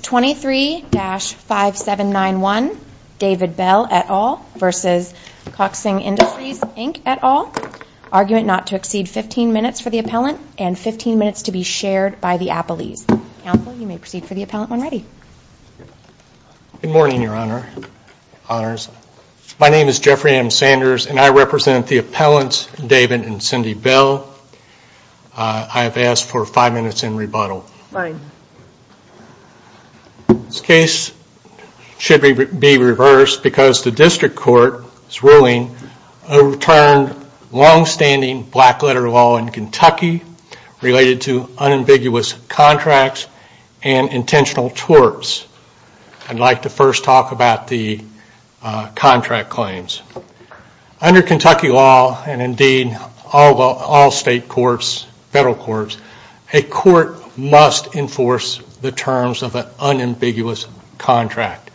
23-5791 David Bell et al. v. Kokosing Industries Inc. et al. Argument not to exceed 15 minutes for the appellant and 15 minutes to be shared by the appellees. Counsel, you may proceed for the appellant when ready. Good morning, Your Honor. Honors. My name is Jeffrey M. Sanders, and I represent the appellants David and Cindy Bell. I have asked for five minutes in rebuttal. This case should be reversed because the district court's ruling overturned longstanding blackletter law in Kentucky related to unambiguous contracts and intentional torts. I'd like to first talk about the contract claims. Under Kentucky law, and indeed all state courts, federal courts, a court must enforce the terms of an unambiguous contract.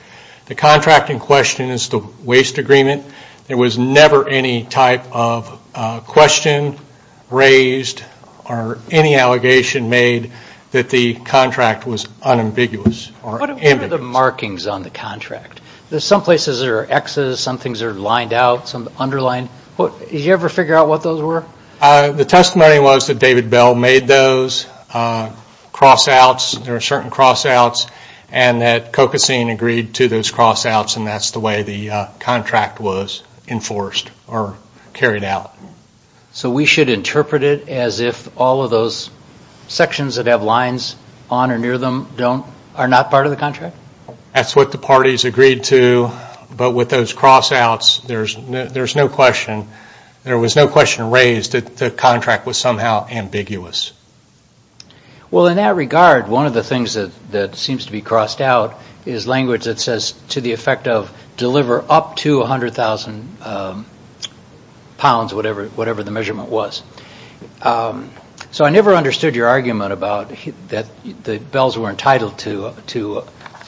The contract in question is the waste agreement. There was never any type of question raised or any allegation made that the contract was unambiguous or ambiguous. What are the markings on the contract? There's some places there are X's, some things are lined out, some underlined. Did you ever figure out what those were? The testimony was that David Bell made those cross-outs. There are certain cross-outs, and that Kokosing agreed to those cross-outs, and that's the way the contract was enforced or carried out. So we should interpret it as if all of those sections that have lines on or near them are not part of the contract? That's what the parties agreed to, but with those cross-outs, there's no question. There was no question raised that the contract was somehow ambiguous. Well, in that regard, one of the things that seems to be crossed out is language that says, to the effect of, deliver up to 100,000 pounds, whatever the measurement was. So I never understood your argument about that the Bells were entitled to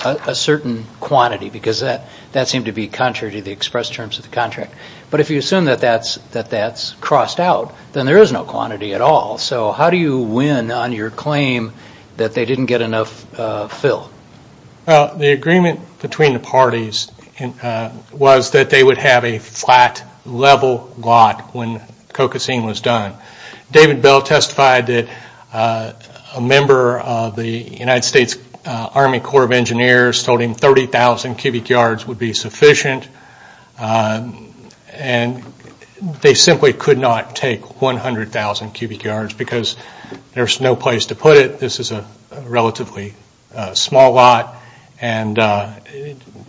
a certain quantity, because that seemed to be contrary to the express terms of the contract. But if you assume that that's crossed out, then there is no quantity at all. So how do you win on your claim that they didn't get enough fill? The agreement between the parties was that they would have a flat level lot when Kokosing was done. David Bell testified that a member of the United States Army Corps of Engineers told him 30,000 cubic yards would be sufficient, and they simply could not take 100,000 cubic yards because there's no place to put it. This is a relatively small lot, and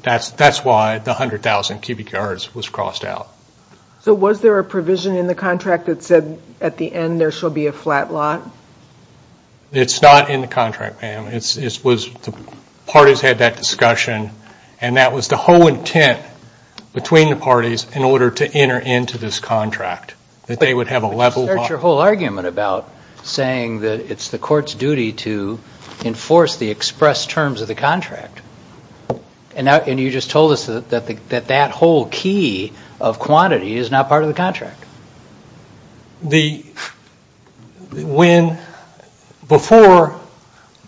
that's why the 100,000 cubic yards was crossed out. So was there a provision in the contract that said, at the end, there shall be a flat lot? It's not in the contract, ma'am. The parties had that discussion, and that was the whole intent between the parties in order to enter into this contract, that they would have a level lot. You start your whole argument about saying that it's the court's duty to enforce the express terms of the contract, and you just told us that that whole key of quantity is not part of the contract. Before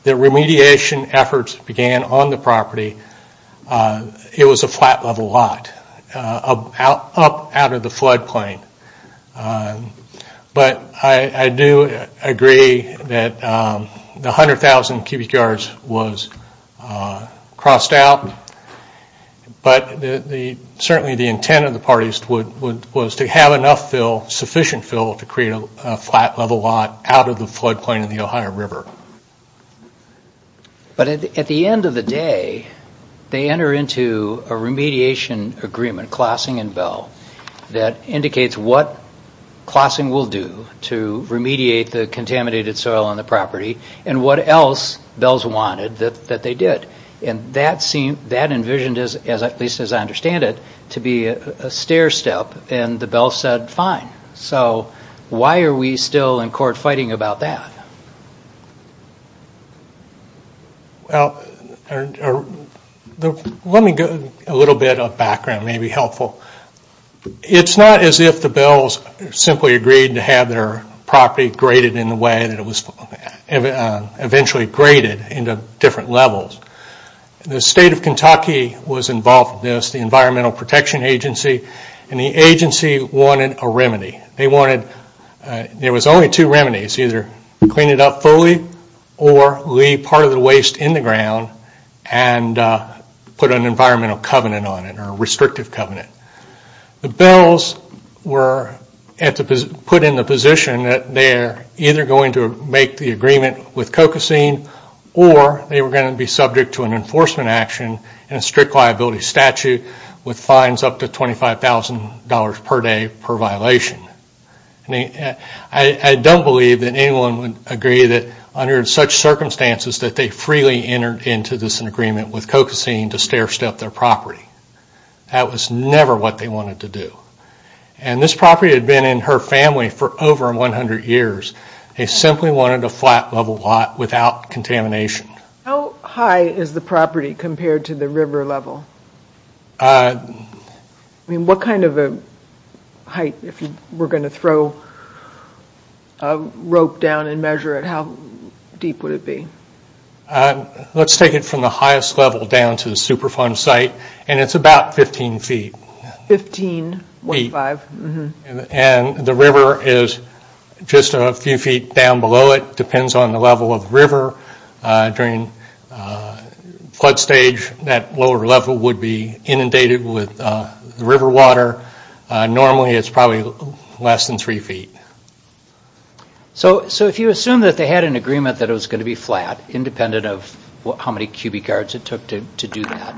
the remediation efforts began on the property, it was a flat level lot up out of the floodplain. But I do agree that the 100,000 cubic yards was crossed out, but certainly the intent of the parties was to have enough fill, sufficient fill, to create a flat level lot out of the floodplain of the Ohio River. But at the end of the day, they enter into a remediation agreement, between Klossing and Bell, that indicates what Klossing will do to remediate the contaminated soil on the property, and what else Bell's wanted that they did. And that envisioned, at least as I understand it, to be a stair step, and the Bell said, fine. So why are we still in court fighting about that? Well, let me give a little bit of background, maybe helpful. It's not as if the Bells simply agreed to have their property graded in the way that it was eventually graded into different levels. The state of Kentucky was involved in this, the Environmental Protection Agency, and the agency wanted a remedy. There was only two remedies, either clean it up fully, or leave part of the waste in the ground, and put an environmental covenant on it, or a restrictive covenant. The Bells were put in the position that they're either going to make the agreement with Cocosine, or they were going to be subject to an enforcement action and a strict liability statute, with fines up to $25,000 per day per violation. I don't believe that anyone would agree that under such circumstances, that they freely entered into this agreement with Cocosine to stair step their property. That was never what they wanted to do. And this property had been in her family for over 100 years. They simply wanted a flat level lot without contamination. How high is the property compared to the river level? I mean, what kind of a height, if we're going to throw a rope down and measure it, how deep would it be? Let's take it from the highest level down to the Superfund site, and it's about 15 feet. 15.5. And the river is just a few feet down below it. It depends on the level of the river. During the flood stage, that lower level would be inundated with river water. Normally, it's probably less than three feet. So if you assume that they had an agreement that it was going to be flat, independent of how many cubic yards it took to do that,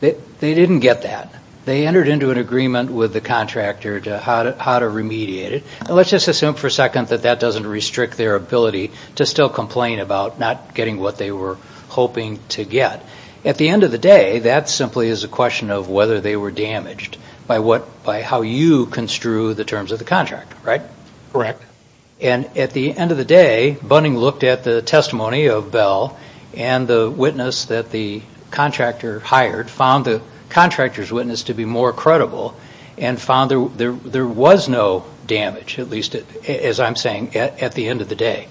they didn't get that. They entered into an agreement with the contractor to how to remediate it. Let's just assume for a second that that doesn't restrict their ability to still complain about not getting what they were hoping to get. At the end of the day, that simply is a question of whether they were damaged by how you construe the terms of the contract. Correct. And at the end of the day, Bunning looked at the testimony of Bell and the witness that the contractor hired found the contractor's witness to be more credible and found there was no damage, at least as I'm saying, at the end of the day.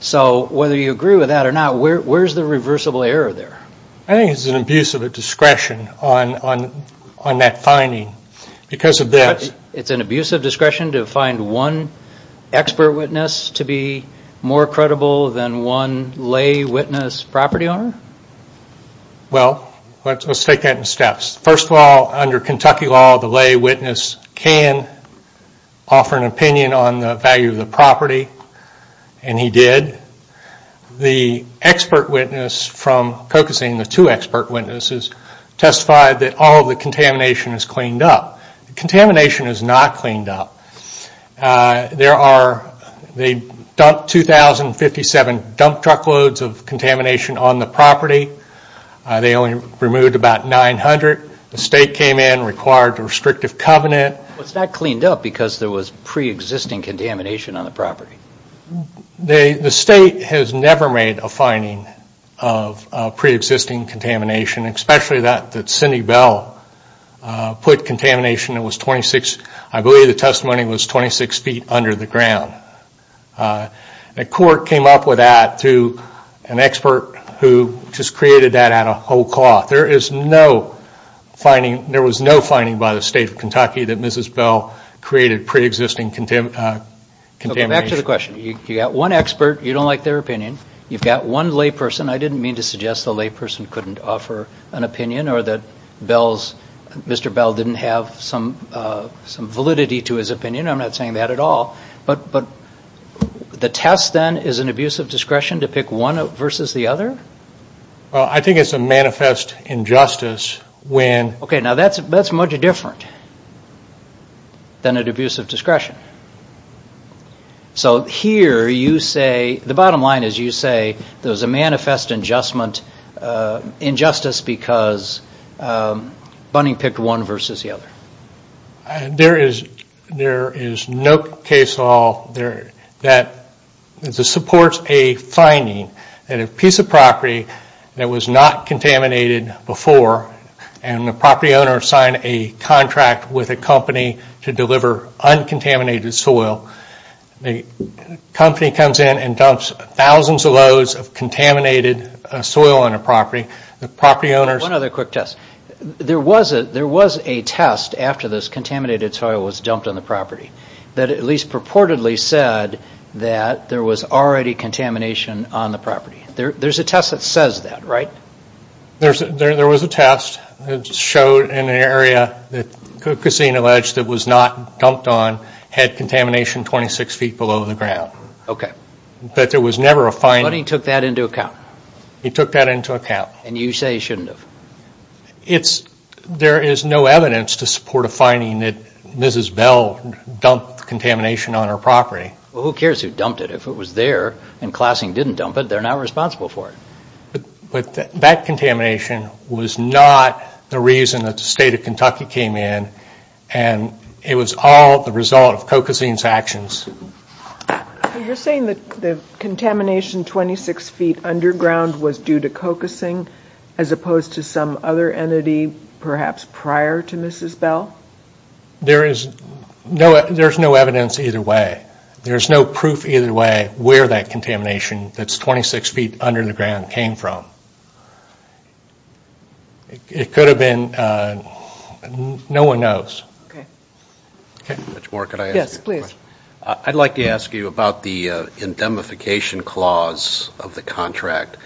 So whether you agree with that or not, where's the reversible error there? I think it's an abuse of discretion on that finding because of that. It's an abuse of discretion to find one expert witness to be more credible than one lay witness property owner? Well, let's take that in steps. First of all, under Kentucky law, the lay witness can offer an opinion on the value of the property, and he did. The expert witness from Cocosine, the two expert witnesses, testified that all of the contamination was cleaned up. Contamination is not cleaned up. They dumped 2,057 dump truck loads of contamination on the property. They only removed about 900. The state came in and required a restrictive covenant. It's not cleaned up because there was pre-existing contamination on the property? The state has never made a finding of pre-existing contamination, especially that Cindy Bell put contamination that was 26, I believe the testimony was 26 feet under the ground. A court came up with that through an expert who just created that out of whole cloth. There is no finding, there was no finding by the state of Kentucky that Mrs. Bell created pre-existing contamination. Okay, back to the question. You've got one expert, you don't like their opinion. You've got one lay person. I didn't mean to suggest the lay person couldn't offer an opinion or that Mr. Bell didn't have some validity to his opinion. I'm not saying that at all. But the test then is an abuse of discretion to pick one versus the other? Well, I think it's a manifest injustice when... Okay, now that's much different than an abuse of discretion. So here you say, the bottom line is you say there's a manifest injustice because Bunning picked one versus the other? There is no case law that supports a finding that a piece of property that was not contaminated before and the property owner signed a contract with a company to deliver uncontaminated soil. The company comes in and dumps thousands of loads of contaminated soil on the property. One other quick test. There was a test after this contaminated soil was dumped on the property that at least purportedly said that there was already contamination on the property. There's a test that says that, right? There was a test that showed an area that Kassin alleged that was not dumped on had contamination 26 feet below the ground. But there was never a finding... Bunning took that into account? He took that into account. And you say he shouldn't have? There is no evidence to support a finding that Mrs. Bell dumped contamination on her property. Well, who cares who dumped it? If it was there and Klassing didn't dump it, they're not responsible for it. But that contamination was not the reason that the state of Kentucky came in. And it was all the result of Cocasin's actions. You're saying that the contamination 26 feet underground was due to Cocasin as opposed to some other entity perhaps prior to Mrs. Bell? There is no evidence either way. There's no proof either way where that contamination that's 26 feet under the ground came from. It could have been... No one knows. Okay. Judge Moore, could I ask you a question? Yes, please. I'd like to ask you about the indemnification clause of the contract.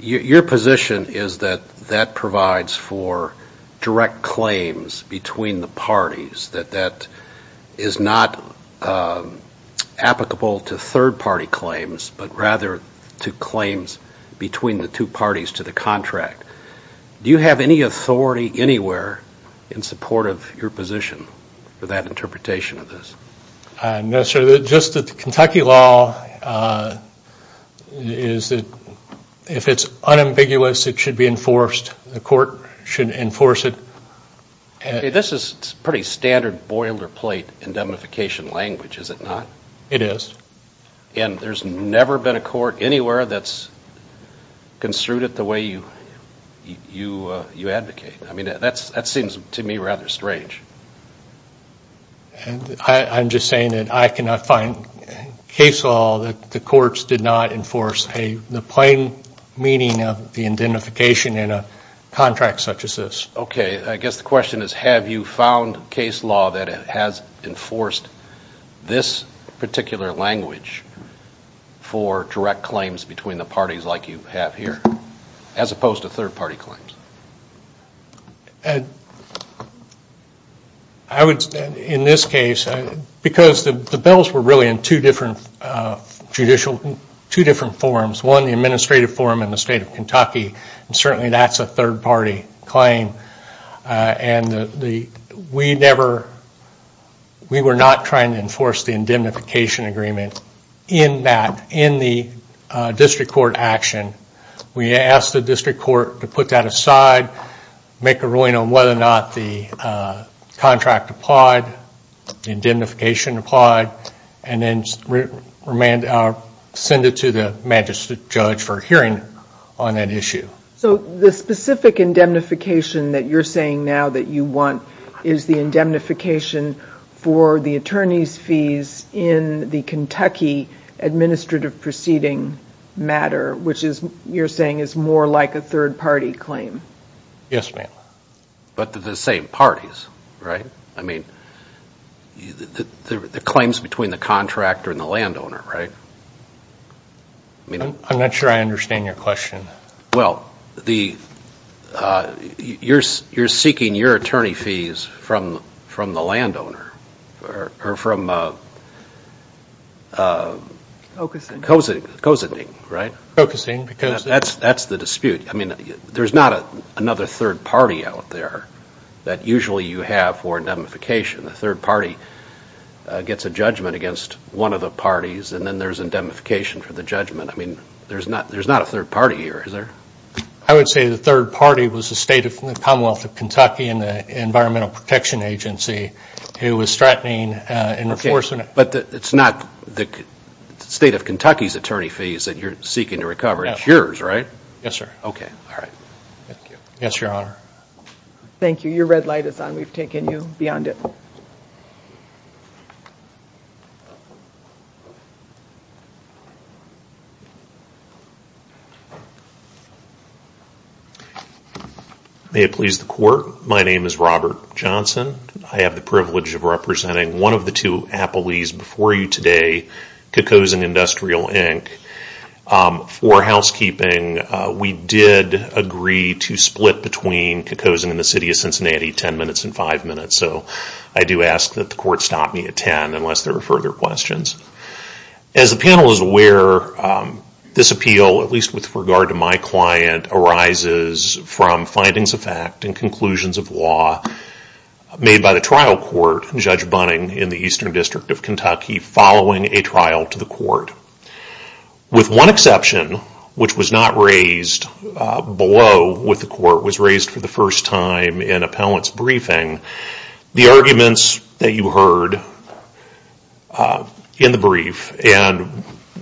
Your position is that that provides for direct claims between the parties. That that is not applicable to third-party claims, but rather to claims between the two parties to the contract. Do you have any authority anywhere in support of your position for that interpretation of this? I'm not sure. Just that the Kentucky law is that if it's unambiguous, it should be enforced. The court should enforce it. This is pretty standard boilerplate indemnification language, is it not? It is. And there's never been a court anywhere that's construed it the way you advocate. I mean, that seems to me rather strange. I'm just saying that I cannot find case law that the courts did not enforce the plain meaning of the indemnification in a contract such as this. Okay. I guess the question is have you found case law that has enforced this particular language for direct claims between the parties like you have here, as opposed to third-party claims? I would, in this case, because the bills were really in two different judicial, two different forms. One, the administrative form in the state of Kentucky, and certainly that's a third-party claim. And we never, we were not trying to enforce the indemnification agreement in that, in the district court action. We asked the district court to put that aside, make a ruling on whether or not the contract applied, indemnification applied, and then send it to the magistrate judge for a hearing on that issue. So the specific indemnification that you're saying now that you want is the indemnification for the attorney's fees in the Kentucky administrative proceeding matter, which you're saying is more like a third-party claim? Yes, ma'am. But they're the same parties, right? I mean, the claims between the contractor and the landowner, right? I'm not sure I understand your question. Well, the, you're seeking your attorney fees from the landowner, or from Cozending, right? Cozending. That's the dispute. I mean, there's not another third party out there that usually you have for indemnification. A third party gets a judgment against one of the parties, and then there's indemnification for the judgment. I mean, there's not a third party here, is there? I would say the third party was the state of the Commonwealth of Kentucky and the Environmental Protection Agency who was threatening and enforcing it. But it's not the state of Kentucky's attorney fees that you're seeking to recover. It's yours, right? Yes, sir. Okay. All right. Thank you. Yes, Your Honor. Thank you. Your red light is on. We've taken you beyond it. May it please the Court, my name is Robert Johnson. I have the privilege of representing one of the two appellees before you today, Kikosin Industrial, Inc. For housekeeping, we did agree to split between Kikosin and the City of Cincinnati ten minutes and five minutes. So I do ask that the Court stop me at ten unless there are further questions. As the panel is aware, this appeal, at least with regard to my client, arises from findings of fact and conclusions of law made by the trial court, Judge Bunning, in the Eastern District of Kentucky following a trial to the Court. With one exception, which was not raised below what the Court was raised for the first time in appellant's briefing, the arguments that you heard in the brief and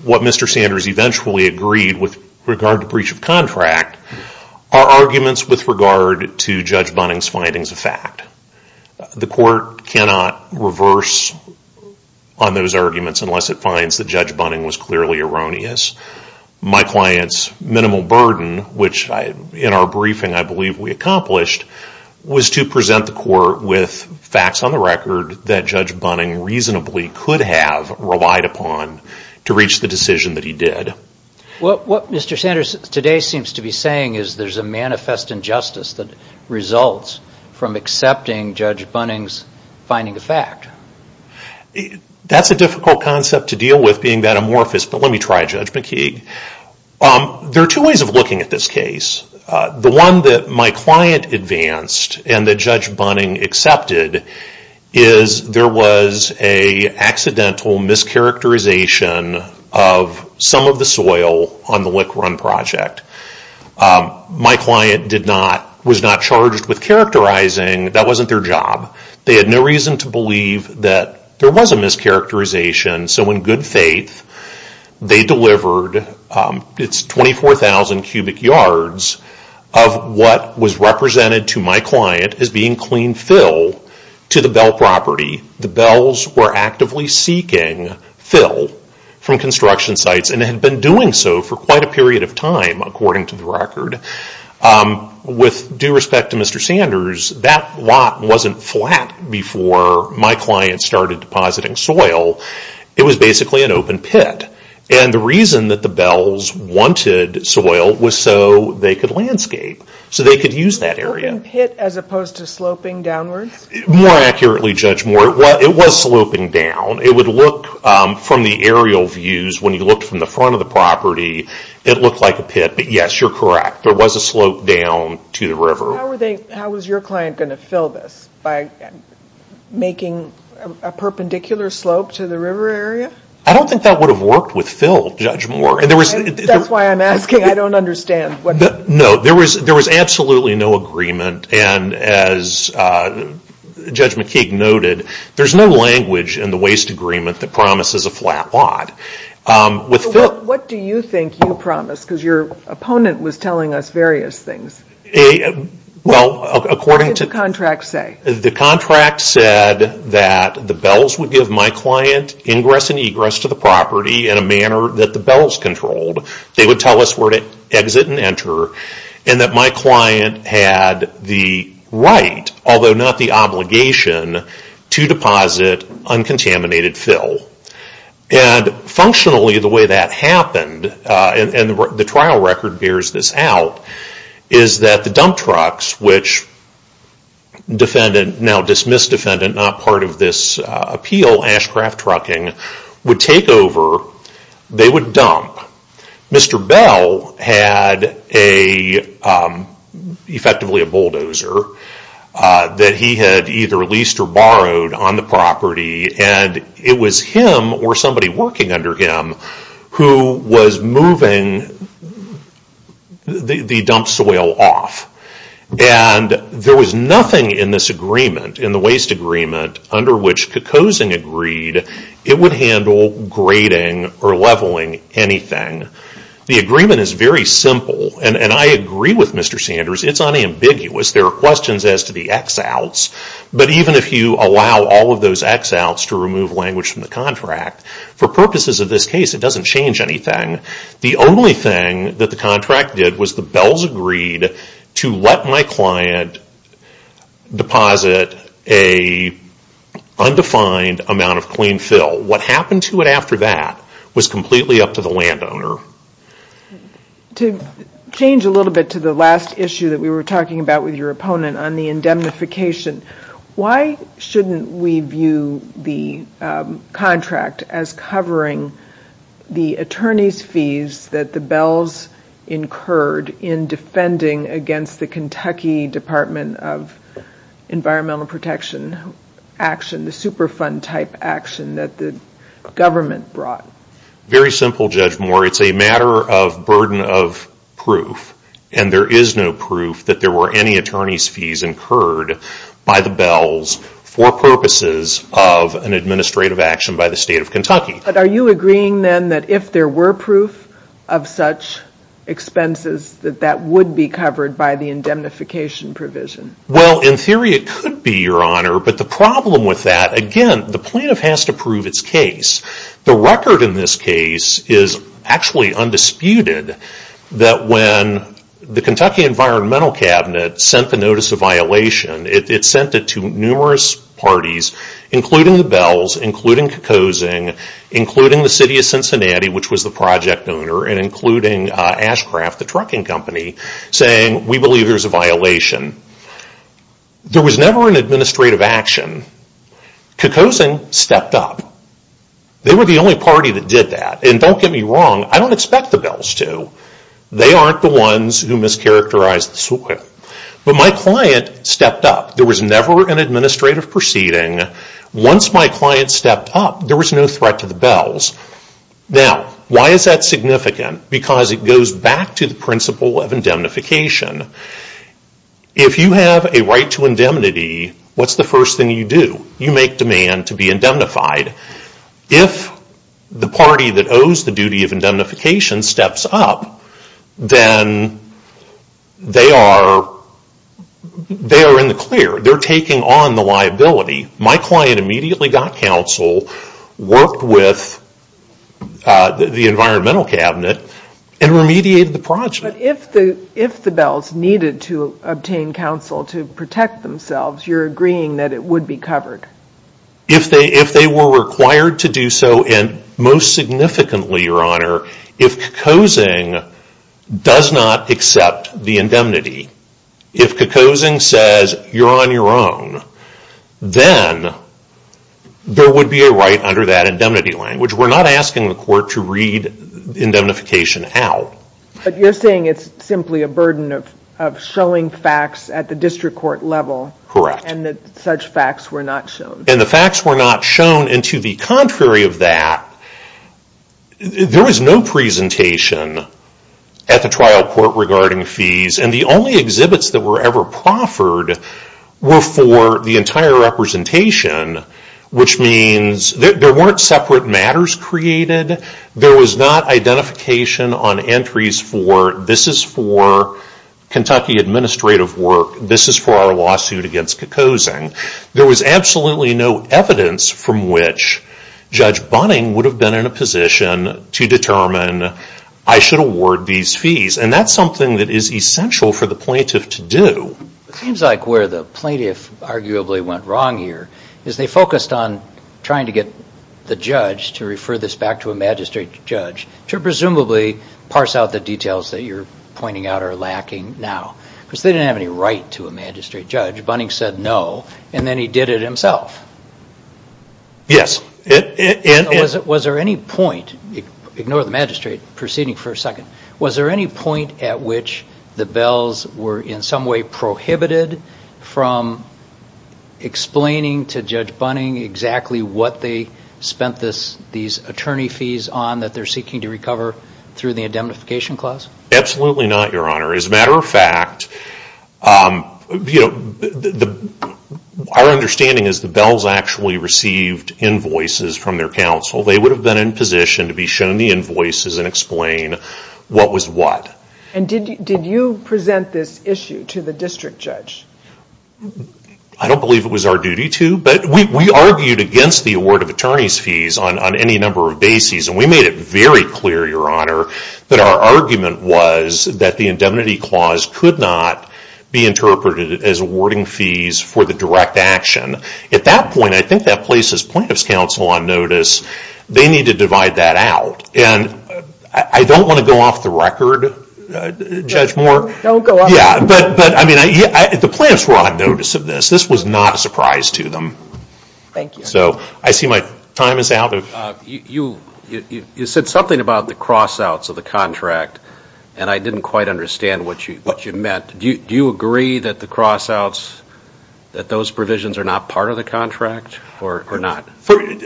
what Mr. Sanders eventually agreed with regard to breach of contract are arguments with regard to Judge Bunning's findings of fact. The Court cannot reverse on those arguments unless it finds that Judge Bunning was clearly erroneous. My client's minimal burden, which in our briefing I believe we accomplished, was to present the Court with facts on the record that Judge Bunning reasonably could have relied upon to reach the decision that he did. What Mr. Sanders today seems to be saying is there's a manifest injustice that results from accepting Judge Bunning's finding of fact. That's a difficult concept to deal with, being that amorphous, but let me try, Judge McKeague. There are two ways of looking at this case. The one that my client advanced and that Judge Bunning accepted is there was an accidental mischaracterization of some of the soil on the Lick Run project. My client was not charged with characterizing. That wasn't their job. They had no reason to believe that there was a mischaracterization, so in good faith they delivered its 24,000 cubic yards of what was represented to my client as being clean fill to the Bell property. The Bells were actively seeking fill from construction sites and had been doing so for quite a period of time, according to the record. With due respect to Mr. Sanders, that lot wasn't flat before my client started depositing soil. It was basically an open pit. The reason that the Bells wanted soil was so they could landscape, so they could use that area. An open pit as opposed to sloping downwards? More accurately, Judge Moore, it was sloping down. It would look, from the aerial views, when you looked from the front of the property, it looked like a pit, but yes, you're correct. There was a slope down to the river. How was your client going to fill this by making a perpendicular slope to the river area? I don't think that would have worked with fill, Judge Moore. That's why I'm asking. I don't understand. No, there was absolutely no agreement. As Judge McKeague noted, there's no language in the waste agreement that promises a flat lot. What do you think you promised? Your opponent was telling us various things. What did the contract say? The contract said that the Bells would give my client ingress and egress to the property in a manner that the Bells controlled. They would tell us where to exit and enter, and that my client had the right, although not the obligation, to deposit uncontaminated fill. Functionally, the way that happened, and the trial record bears this out, is that the dump trucks, which now dismiss defendant, not part of this appeal, Ashcraft Trucking, would take over. They would dump. Mr. Bell had effectively a bulldozer that he had either leased or borrowed on the property. It was him, or somebody working under him, who was moving the dump soil off. There was nothing in this agreement, in the waste agreement, under which Kukosing agreed it would handle grading or leveling anything. The agreement is very simple, and I agree with Mr. Sanders. It's unambiguous. There are questions as to the ex-outs, but even if you allow all of those ex-outs to remove language from the contract, for purposes of this case, it doesn't change anything. The only thing that the contract did was the Bells agreed to let my client deposit an undefined amount of clean fill. What happened to it after that was completely up to the landowner. To change a little bit to the last issue that we were talking about with your opponent on the indemnification, why shouldn't we view the contract as covering the attorney's fees that the Bells incurred in defending against the Kentucky Department of Environmental Protection action, the Superfund-type action that the government brought? Very simple, Judge Moore. It's a matter of burden of proof, and there is no proof that there were any attorney's fees incurred by the Bells for purposes of an administrative action by the state of Kentucky. But are you agreeing, then, that if there were proof of such expenses, that that would be covered by the indemnification provision? Well, in theory, it could be, Your Honor. But the problem with that, again, the plaintiff has to prove its case. The record in this case is actually undisputed that when the Kentucky Environmental Cabinet sent the notice of violation, it sent it to numerous parties, including the Bells, including Kokosing, including the city of Cincinnati, which was the project owner, and including Ashcraft, the trucking company, saying, we believe there's a violation. There was never an administrative action. Kokosing stepped up. They were the only party that did that. And don't get me wrong, I don't expect the Bells to. They aren't the ones who mischaracterized the suit. But my client stepped up. There was never an administrative proceeding. Once my client stepped up, there was no threat to the Bells. Now, why is that significant? Because it goes back to the principle of indemnification. If you have a right to indemnity, what's the first thing you do? You make demand to be indemnified. If the party that owes the duty of indemnification steps up, then they are in the clear. They're taking on the liability. My client immediately got counsel, worked with the environmental cabinet, and remediated the project. But if the Bells needed to obtain counsel to protect themselves, you're agreeing that it would be covered? If they were required to do so, and most significantly, Your Honor, if Kokosing does not accept the indemnity, if Kokosing says you're on your own, then there would be a right under that indemnity line, which we're not asking the court to read indemnification out. But you're saying it's simply a burden of showing facts at the district court level. Correct. And that such facts were not shown. And the facts were not shown. And to the contrary of that, there was no presentation at the trial court regarding fees. And the only exhibits that were ever proffered were for the entire representation, which means there weren't separate matters created. There was not identification on entries for, this is for Kentucky administrative work, this is for our lawsuit against Kokosing. There was absolutely no evidence from which Judge Bunning would have been in a position to determine I should award these fees. And that's something that is essential for the plaintiff to do. It seems like where the plaintiff arguably went wrong here is they focused on trying to get the judge to refer this back to a magistrate judge to presumably parse out the details that you're pointing out are lacking now. Because they didn't have any right to a magistrate judge. Bunning said no, and then he did it himself. Yes. Was there any point, ignore the magistrate proceeding for a second, was there any point at which the Bells were in some way prohibited from explaining to Judge Bunning exactly what they spent these attorney fees on that they're seeking to recover through the indemnification clause? Absolutely not, Your Honor. As a matter of fact, our understanding is the Bells actually received invoices from their counsel. They would have been in position to be shown the invoices and explain what was what. And did you present this issue to the district judge? I don't believe it was our duty to, but we argued against the award of attorney's fees on any number of bases, and we made it very clear, Your Honor, that our argument was that the indemnity clause could not be interpreted as awarding fees for the direct action. At that point, I think that places plaintiff's counsel on notice. They need to divide that out, and I don't want to go off the record, Judge Moore. Don't go off the record. Yeah, but the plaintiffs were on notice of this. This was not a surprise to them. Thank you. So I see my time is out. You said something about the cross-outs of the contract, and I didn't quite understand what you meant. Do you agree that the cross-outs, that those provisions are not part of the contract or not?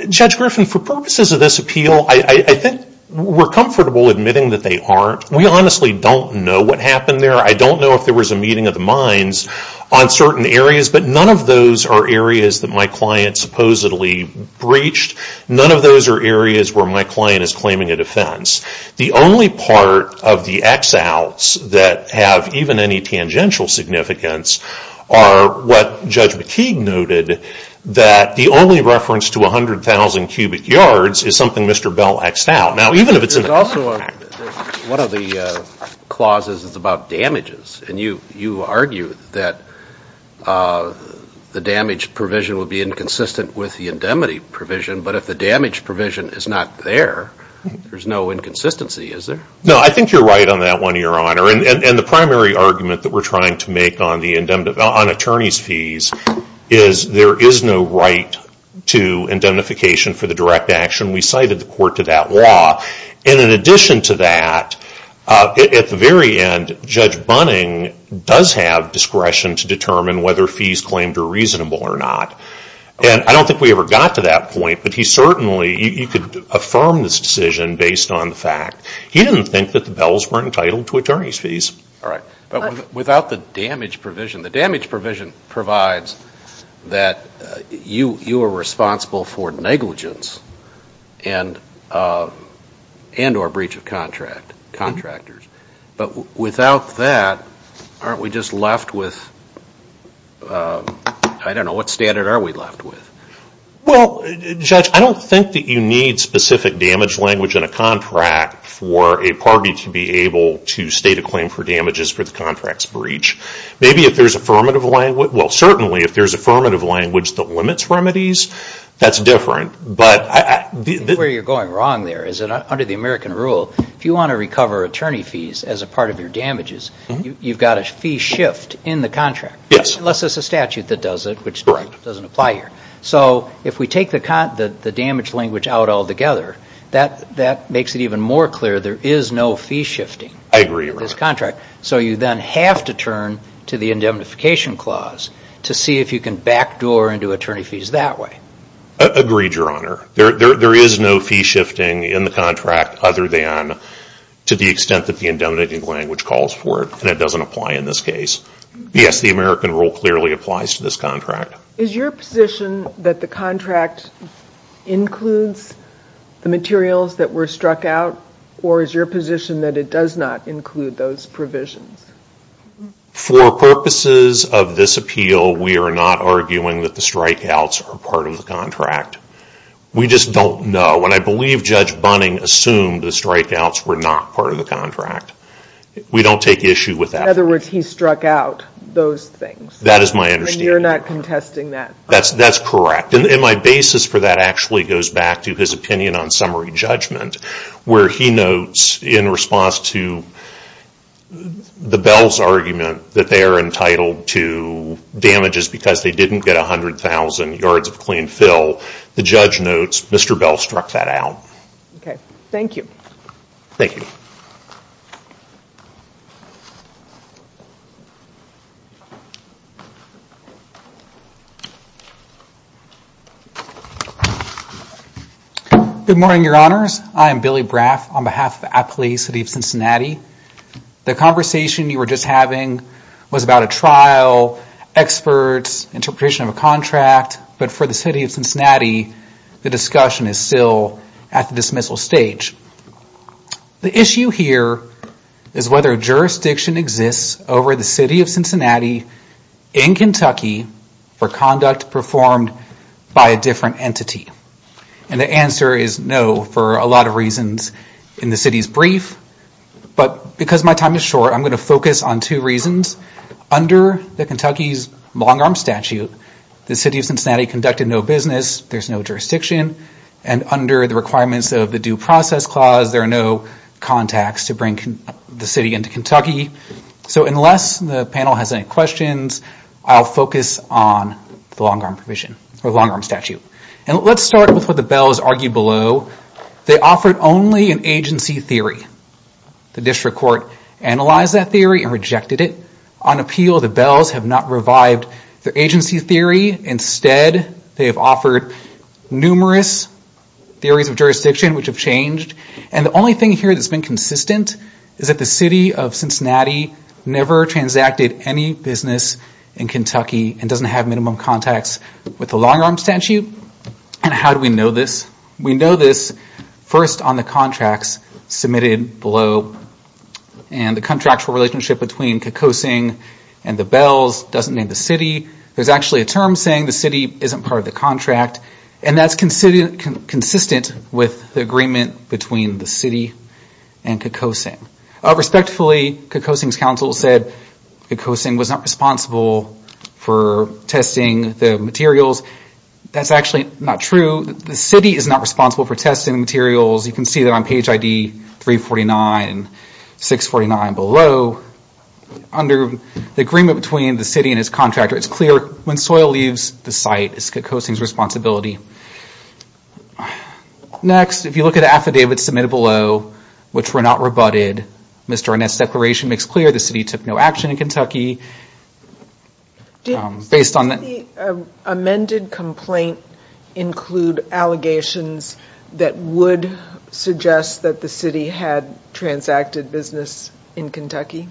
Judge Griffin, for purposes of this appeal, I think we're comfortable admitting that they aren't. We honestly don't know what happened there. I don't know if there was a meeting of the minds on certain areas, but none of those are areas that my client supposedly breached. None of those are areas where my client is claiming a defense. The only part of the X-outs that have even any tangential significance are what Judge McKeague noted, that the only reference to 100,000 cubic yards is something Mr. Bell X'd out. Now, even if it's in the contract. There's also one of the clauses that's about damages, and you argue that the damage provision would be inconsistent with the indemnity provision, but if the damage provision is not there, there's no inconsistency, is there? No, I think you're right on that one, Your Honor, and the primary argument that we're trying to make on attorneys' fees is there is no right to indemnification for the direct action. We cited the court to that law, and in addition to that, at the very end, Judge Bunning does have discretion to determine whether fees claimed are reasonable or not, and I don't think we ever got to that point, but he certainly, you could affirm this decision based on the fact. He didn't think that the Bells were entitled to attorneys' fees. All right, but without the damage provision, the damage provision provides that you are responsible for negligence and or breach of contract, contractors, but without that, aren't we just left with, I don't know, what standard are we left with? Well, Judge, I don't think that you need specific damage language in a contract for a party to be able to state a claim for damages for the contract's breach. Maybe if there's affirmative language, well, certainly, if there's affirmative language that limits remedies, that's different. Where you're going wrong there is that under the American rule, if you want to recover attorney fees as a part of your damages, you've got a fee shift in the contract, unless it's a statute that does it, which doesn't apply here. So if we take the damage language out altogether, that makes it even more clear there is no fee shifting in this contract. So you then have to turn to the indemnification clause to see if you can backdoor into attorney fees that way. Agreed, Your Honor. There is no fee shifting in the contract other than to the extent that the indemnifying language calls for it, and it doesn't apply in this case. Yes, the American rule clearly applies to this contract. Is your position that the contract includes the materials that were struck out, or is your position that it does not include those provisions? For purposes of this appeal, we are not arguing that the strikeouts are part of the contract. We just don't know, and I believe Judge Bunning assumed the strikeouts were not part of the contract. We don't take issue with that. In other words, he struck out those things. That is my understanding. And you're not contesting that? That's correct. And my basis for that actually goes back to his opinion on summary judgment, where he notes in response to the Bell's argument that they are entitled to damages because they didn't get 100,000 yards of clean fill, the judge notes Mr. Bell struck that out. Okay. Thank you. Thank you. Good morning, Your Honors. I am Billy Braff on behalf of the Appley City of Cincinnati. The conversation you were just having was about a trial, experts, interpretation of a contract, but for the City of Cincinnati, the discussion is still at the dismissal stage. The issue here is whether or not there is a dismissal. Whether jurisdiction exists over the City of Cincinnati in Kentucky for conduct performed by a different entity. And the answer is no, for a lot of reasons in the City's brief. But because my time is short, I'm going to focus on two reasons. Under the Kentucky's long-arm statute, the City of Cincinnati conducted no business, there's no jurisdiction, and under the requirements of the Due Process Clause, there are no contacts to bring the City into Kentucky. So unless the panel has any questions, I'll focus on the long-arm provision, or the long-arm statute. And let's start with what the Bells argued below. They offered only an agency theory. The district court analyzed that theory and rejected it. On appeal, the Bells have not revived the agency theory. Instead, they have offered numerous theories of jurisdiction which have changed. And the only thing here that's been consistent is that the City of Cincinnati never transacted any business in Kentucky and doesn't have minimum contacts with the long-arm statute. And how do we know this? We know this first on the contracts submitted below. And the contractual relationship between Kekosing and the Bells doesn't name the City. There's actually a term saying the City isn't part of the contract. And that's consistent with the agreement between the City and Kekosing. Respectfully, Kekosing's counsel said Kekosing was not responsible for testing the materials. That's actually not true. The City is not responsible for testing the materials. You can see that on page ID 349 and 649 below. Under the agreement between the City and its contractor, it's clear when soil leaves the site, it's Kekosing's responsibility. Next, if you look at the affidavits submitted below, which were not rebutted, Mr. Arnett's declaration makes clear the City took no action in Kentucky. Does the amended complaint include allegations that would suggest that the City had transacted business in Kentucky?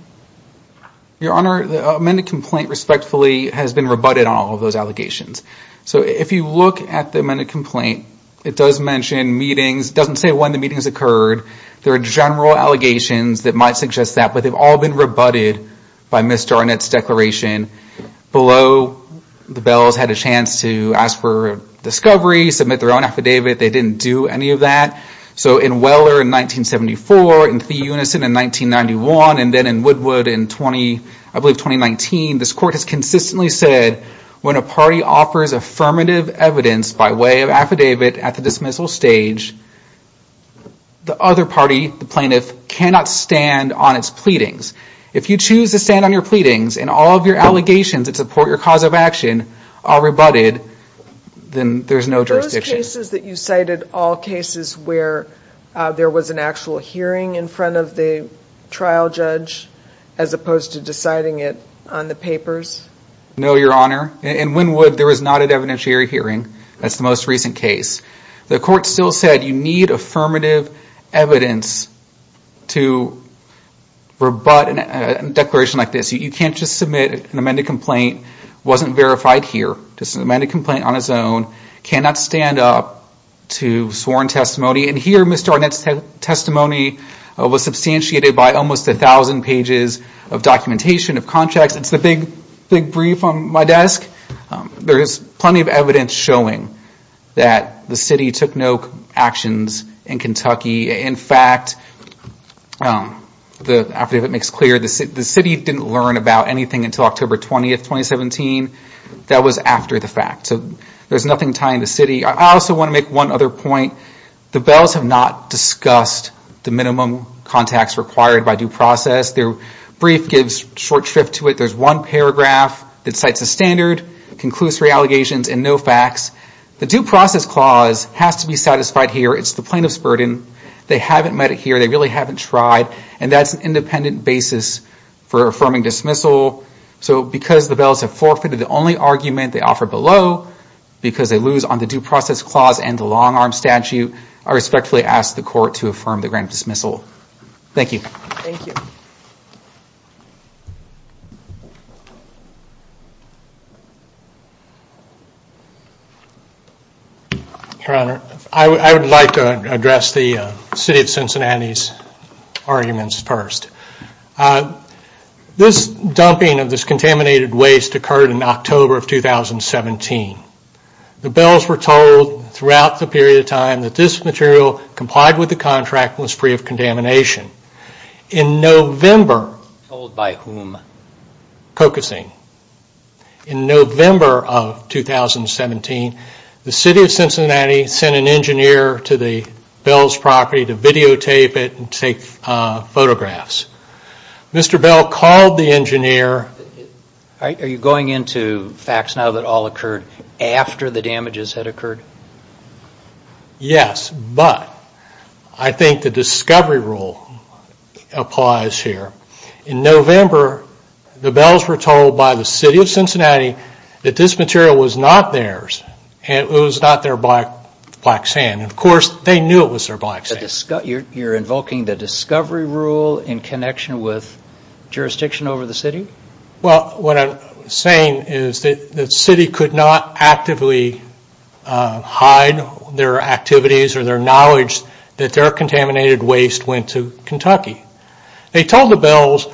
Your Honor, the amended complaint respectfully has been rebutted on all of those allegations. So if you look at the amended complaint, it does mention meetings. It doesn't say when the meetings occurred. There are general allegations that might suggest that, but they've all been rebutted by Mr. Arnett's declaration. Below, the Bells had a chance to ask for a discovery, submit their own affidavit. They didn't do any of that. So in Weller in 1974, in Thee Unison in 1991, and then in Woodwood in 2019, this Court has consistently said when a party offers affirmative evidence by way of affidavit at the dismissal stage, the other party, the plaintiff, cannot stand on its pleadings. If you choose to stand on your pleadings and all of your allegations that support your cause of action are rebutted, then there's no jurisdiction. Are those cases that you cited all cases where there was an actual hearing in front of the trial judge, as opposed to deciding it on the papers? No, Your Honor. In Wynwood, there was not an evidentiary hearing. That's the most recent case. The Court still said you need affirmative evidence to rebut a declaration like this. You can't just submit an amended complaint. It wasn't verified here. Just an amended complaint on its own cannot stand up to sworn testimony. And here, Mr. Arnett's testimony was substantiated by almost 1,000 pages of documentation, of contracts. It's the big brief on my desk. There is plenty of evidence showing that the city took no actions in Kentucky. In fact, the affidavit makes clear the city didn't learn about anything until October 20, 2017. That was after the fact. So there's nothing tying the city. I also want to make one other point. The Bells have not discussed the minimum contacts required by due process. Their brief gives short shrift to it. There's one paragraph that cites a standard, conclusory allegations, and no facts. The due process clause has to be satisfied here. It's the plaintiff's burden. They haven't met it here. They really haven't tried. And that's an independent basis for affirming dismissal. So because the Bells have forfeited the only argument they offer below, because they lose on the due process clause and the long-arm statute, I respectfully ask the Court to affirm the grant of dismissal. Thank you. Thank you. Your Honor, I would like to address the city of Cincinnati's arguments first. This dumping of this contaminated waste occurred in October of 2017. The Bells were told throughout the period of time that this material complied with the contract and was free of contamination. In November, told by whom? Cocosine. In November of 2017, the city of Cincinnati sent an engineer to the Bells' property to videotape it and take photographs. Mr. Bell called the engineer. Are you going into facts now that all occurred after the damages had occurred? Yes, but I think the discovery rule applies here. In November, the Bells were told by the city of Cincinnati that this material was not theirs and it was not their black sand. Of course, they knew it was their black sand. You're invoking the discovery rule in connection with jurisdiction over the city? What I'm saying is that the city could not actively hide their activities or their knowledge that their contaminated waste went to Kentucky. They told the Bells,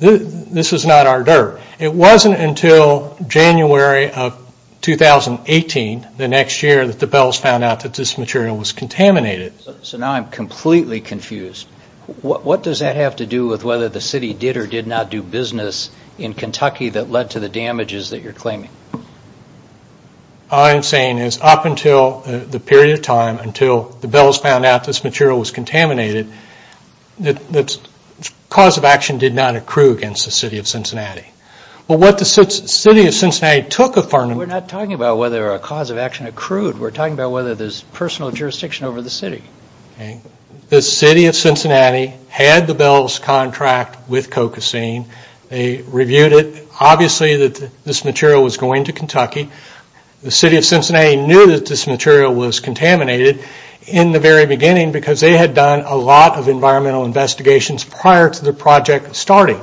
this is not our dirt. It wasn't until January of 2018, the next year, that the Bells found out that this material was contaminated. So now I'm completely confused. What does that have to do with whether the city did or did not do business in Kentucky that led to the damages that you're claiming? All I'm saying is up until the period of time until the Bells found out this material was contaminated, the cause of action did not accrue against the city of Cincinnati. Well, what the city of Cincinnati took from them… We're not talking about whether a cause of action accrued. We're talking about whether there's personal jurisdiction over the city. The city of Cincinnati had the Bells' contract with Cocosine. They reviewed it. Obviously, this material was going to Kentucky. The city of Cincinnati knew that this material was contaminated in the very beginning because they had done a lot of environmental investigations prior to the project starting.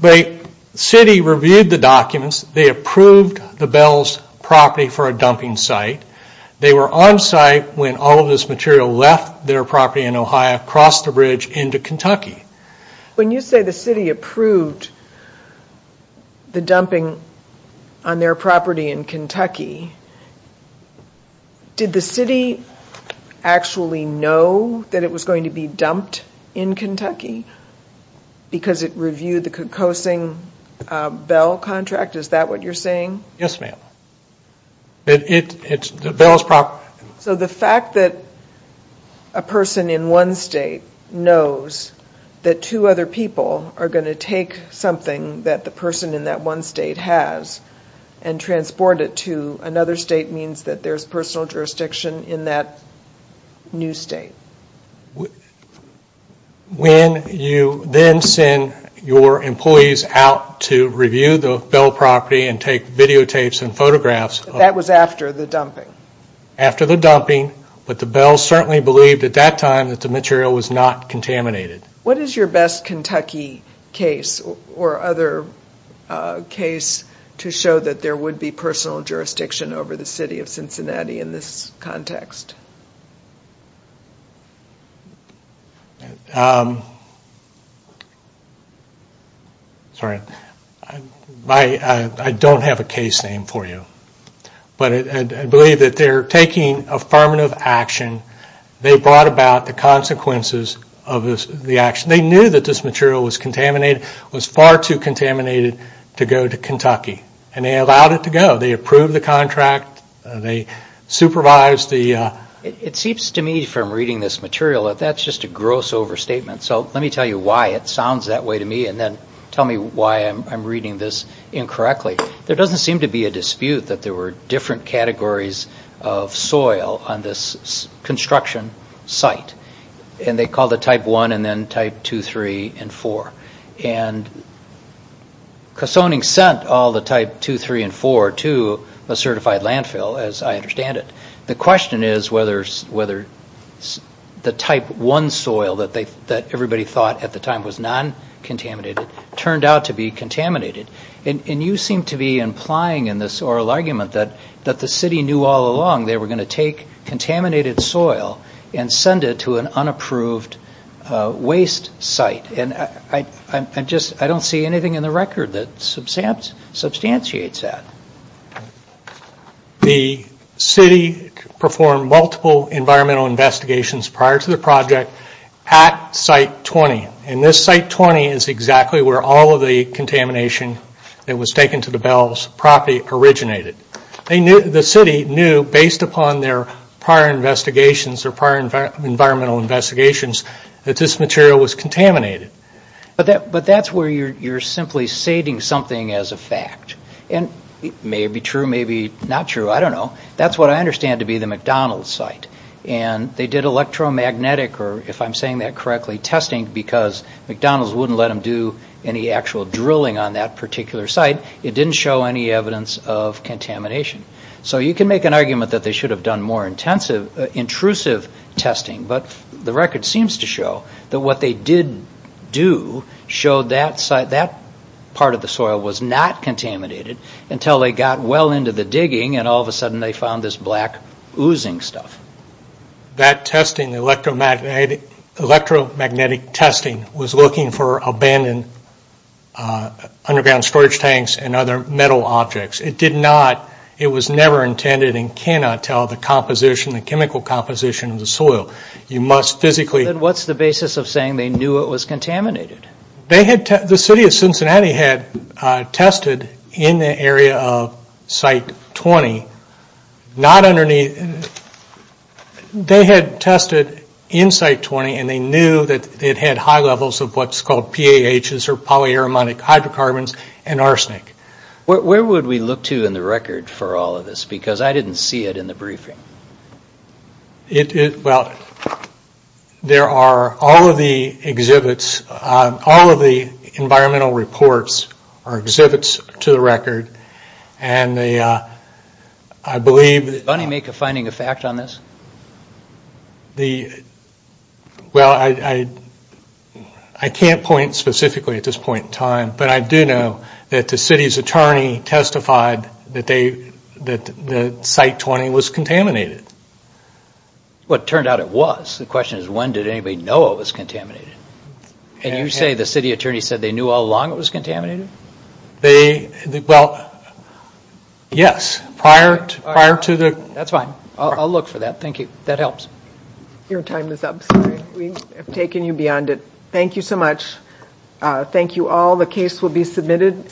The city reviewed the documents. They approved the Bells' property for a dumping site. They were on site when all of this material left their property in Ohio, crossed the bridge into Kentucky. When you say the city approved the dumping on their property in Kentucky, did the city actually know that it was going to be dumped in Kentucky because it reviewed the Cocosine Bell contract? Is that what you're saying? Yes, ma'am. The Bells' property… So the fact that a person in one state knows that two other people are going to take something that the person in that one state has and transport it to another state means that there's personal jurisdiction in that new state. When you then send your employees out to review the Bell property and take videotapes and photographs… That was after the dumping. After the dumping. But the Bells certainly believed at that time that the material was not contaminated. What is your best Kentucky case or other case to show that there would be personal jurisdiction over the city of Cincinnati in this context? Sorry, I don't have a case name for you. But I believe that they're taking affirmative action. They brought about the consequences of the action. They knew that this material was far too contaminated to go to Kentucky and they allowed it to go. They approved the contract. They supervised the process. It seems to me from reading this material that that's just a gross overstatement. So let me tell you why it sounds that way to me and then tell me why I'm reading this incorrectly. There doesn't seem to be a dispute that there were different categories of soil on this construction site. And they called it Type 1 and then Type 2, 3, and 4. And Cosoning sent all the Type 2, 3, and 4 to a certified landfill, as I understand it. The question is whether the Type 1 soil that everybody thought at the time was non-contaminated turned out to be contaminated. And you seem to be implying in this oral argument that the city knew all along they were going to take contaminated soil and send it to an unapproved waste site. And I don't see anything in the record that substantiates that. The city performed multiple environmental investigations prior to the project at Site 20. And this Site 20 is exactly where all of the contamination that was taken to the Bells property originated. The city knew based upon their prior investigations, their prior environmental investigations, that this material was contaminated. But that's where you're simply stating something as a fact. And it may be true, maybe not true, I don't know. That's what I understand to be the McDonald's site. And they did electromagnetic, or if I'm saying that correctly, testing because McDonald's wouldn't let them do any actual drilling on that particular site. It didn't show any evidence of contamination. So you can make an argument that they should have done more intrusive testing. But the record seems to show that what they did do that part of the soil was not contaminated until they got well into the digging and all of a sudden they found this black oozing stuff. That electromagnetic testing was looking for abandoned underground storage tanks and other metal objects. It was never intended and cannot tell the chemical composition of the soil. Then what's the basis of saying they knew it was contaminated? The city of Cincinnati had tested in the area of Site 20. They had tested in Site 20 and they knew that it had high levels of what's called PAHs or polyaromatic hydrocarbons and arsenic. Where would we look to in the record for all of this? Because I didn't see it in the briefing. Well, there are all of the exhibits, all of the environmental reports are exhibits to the record and I believe... Did money make a finding of fact on this? Well, I can't point specifically at this point in time but I do know that the city's attorney testified that Site 20 was contaminated. Well, it turned out it was. The question is when did anybody know it was contaminated? And you say the city attorney said they knew all along it was contaminated? Well, yes. Prior to the... That's fine. I'll look for that. Thank you. That helps. Your time is up. We have taken you beyond it. Thank you so much. Thank you all. The case will be submitted.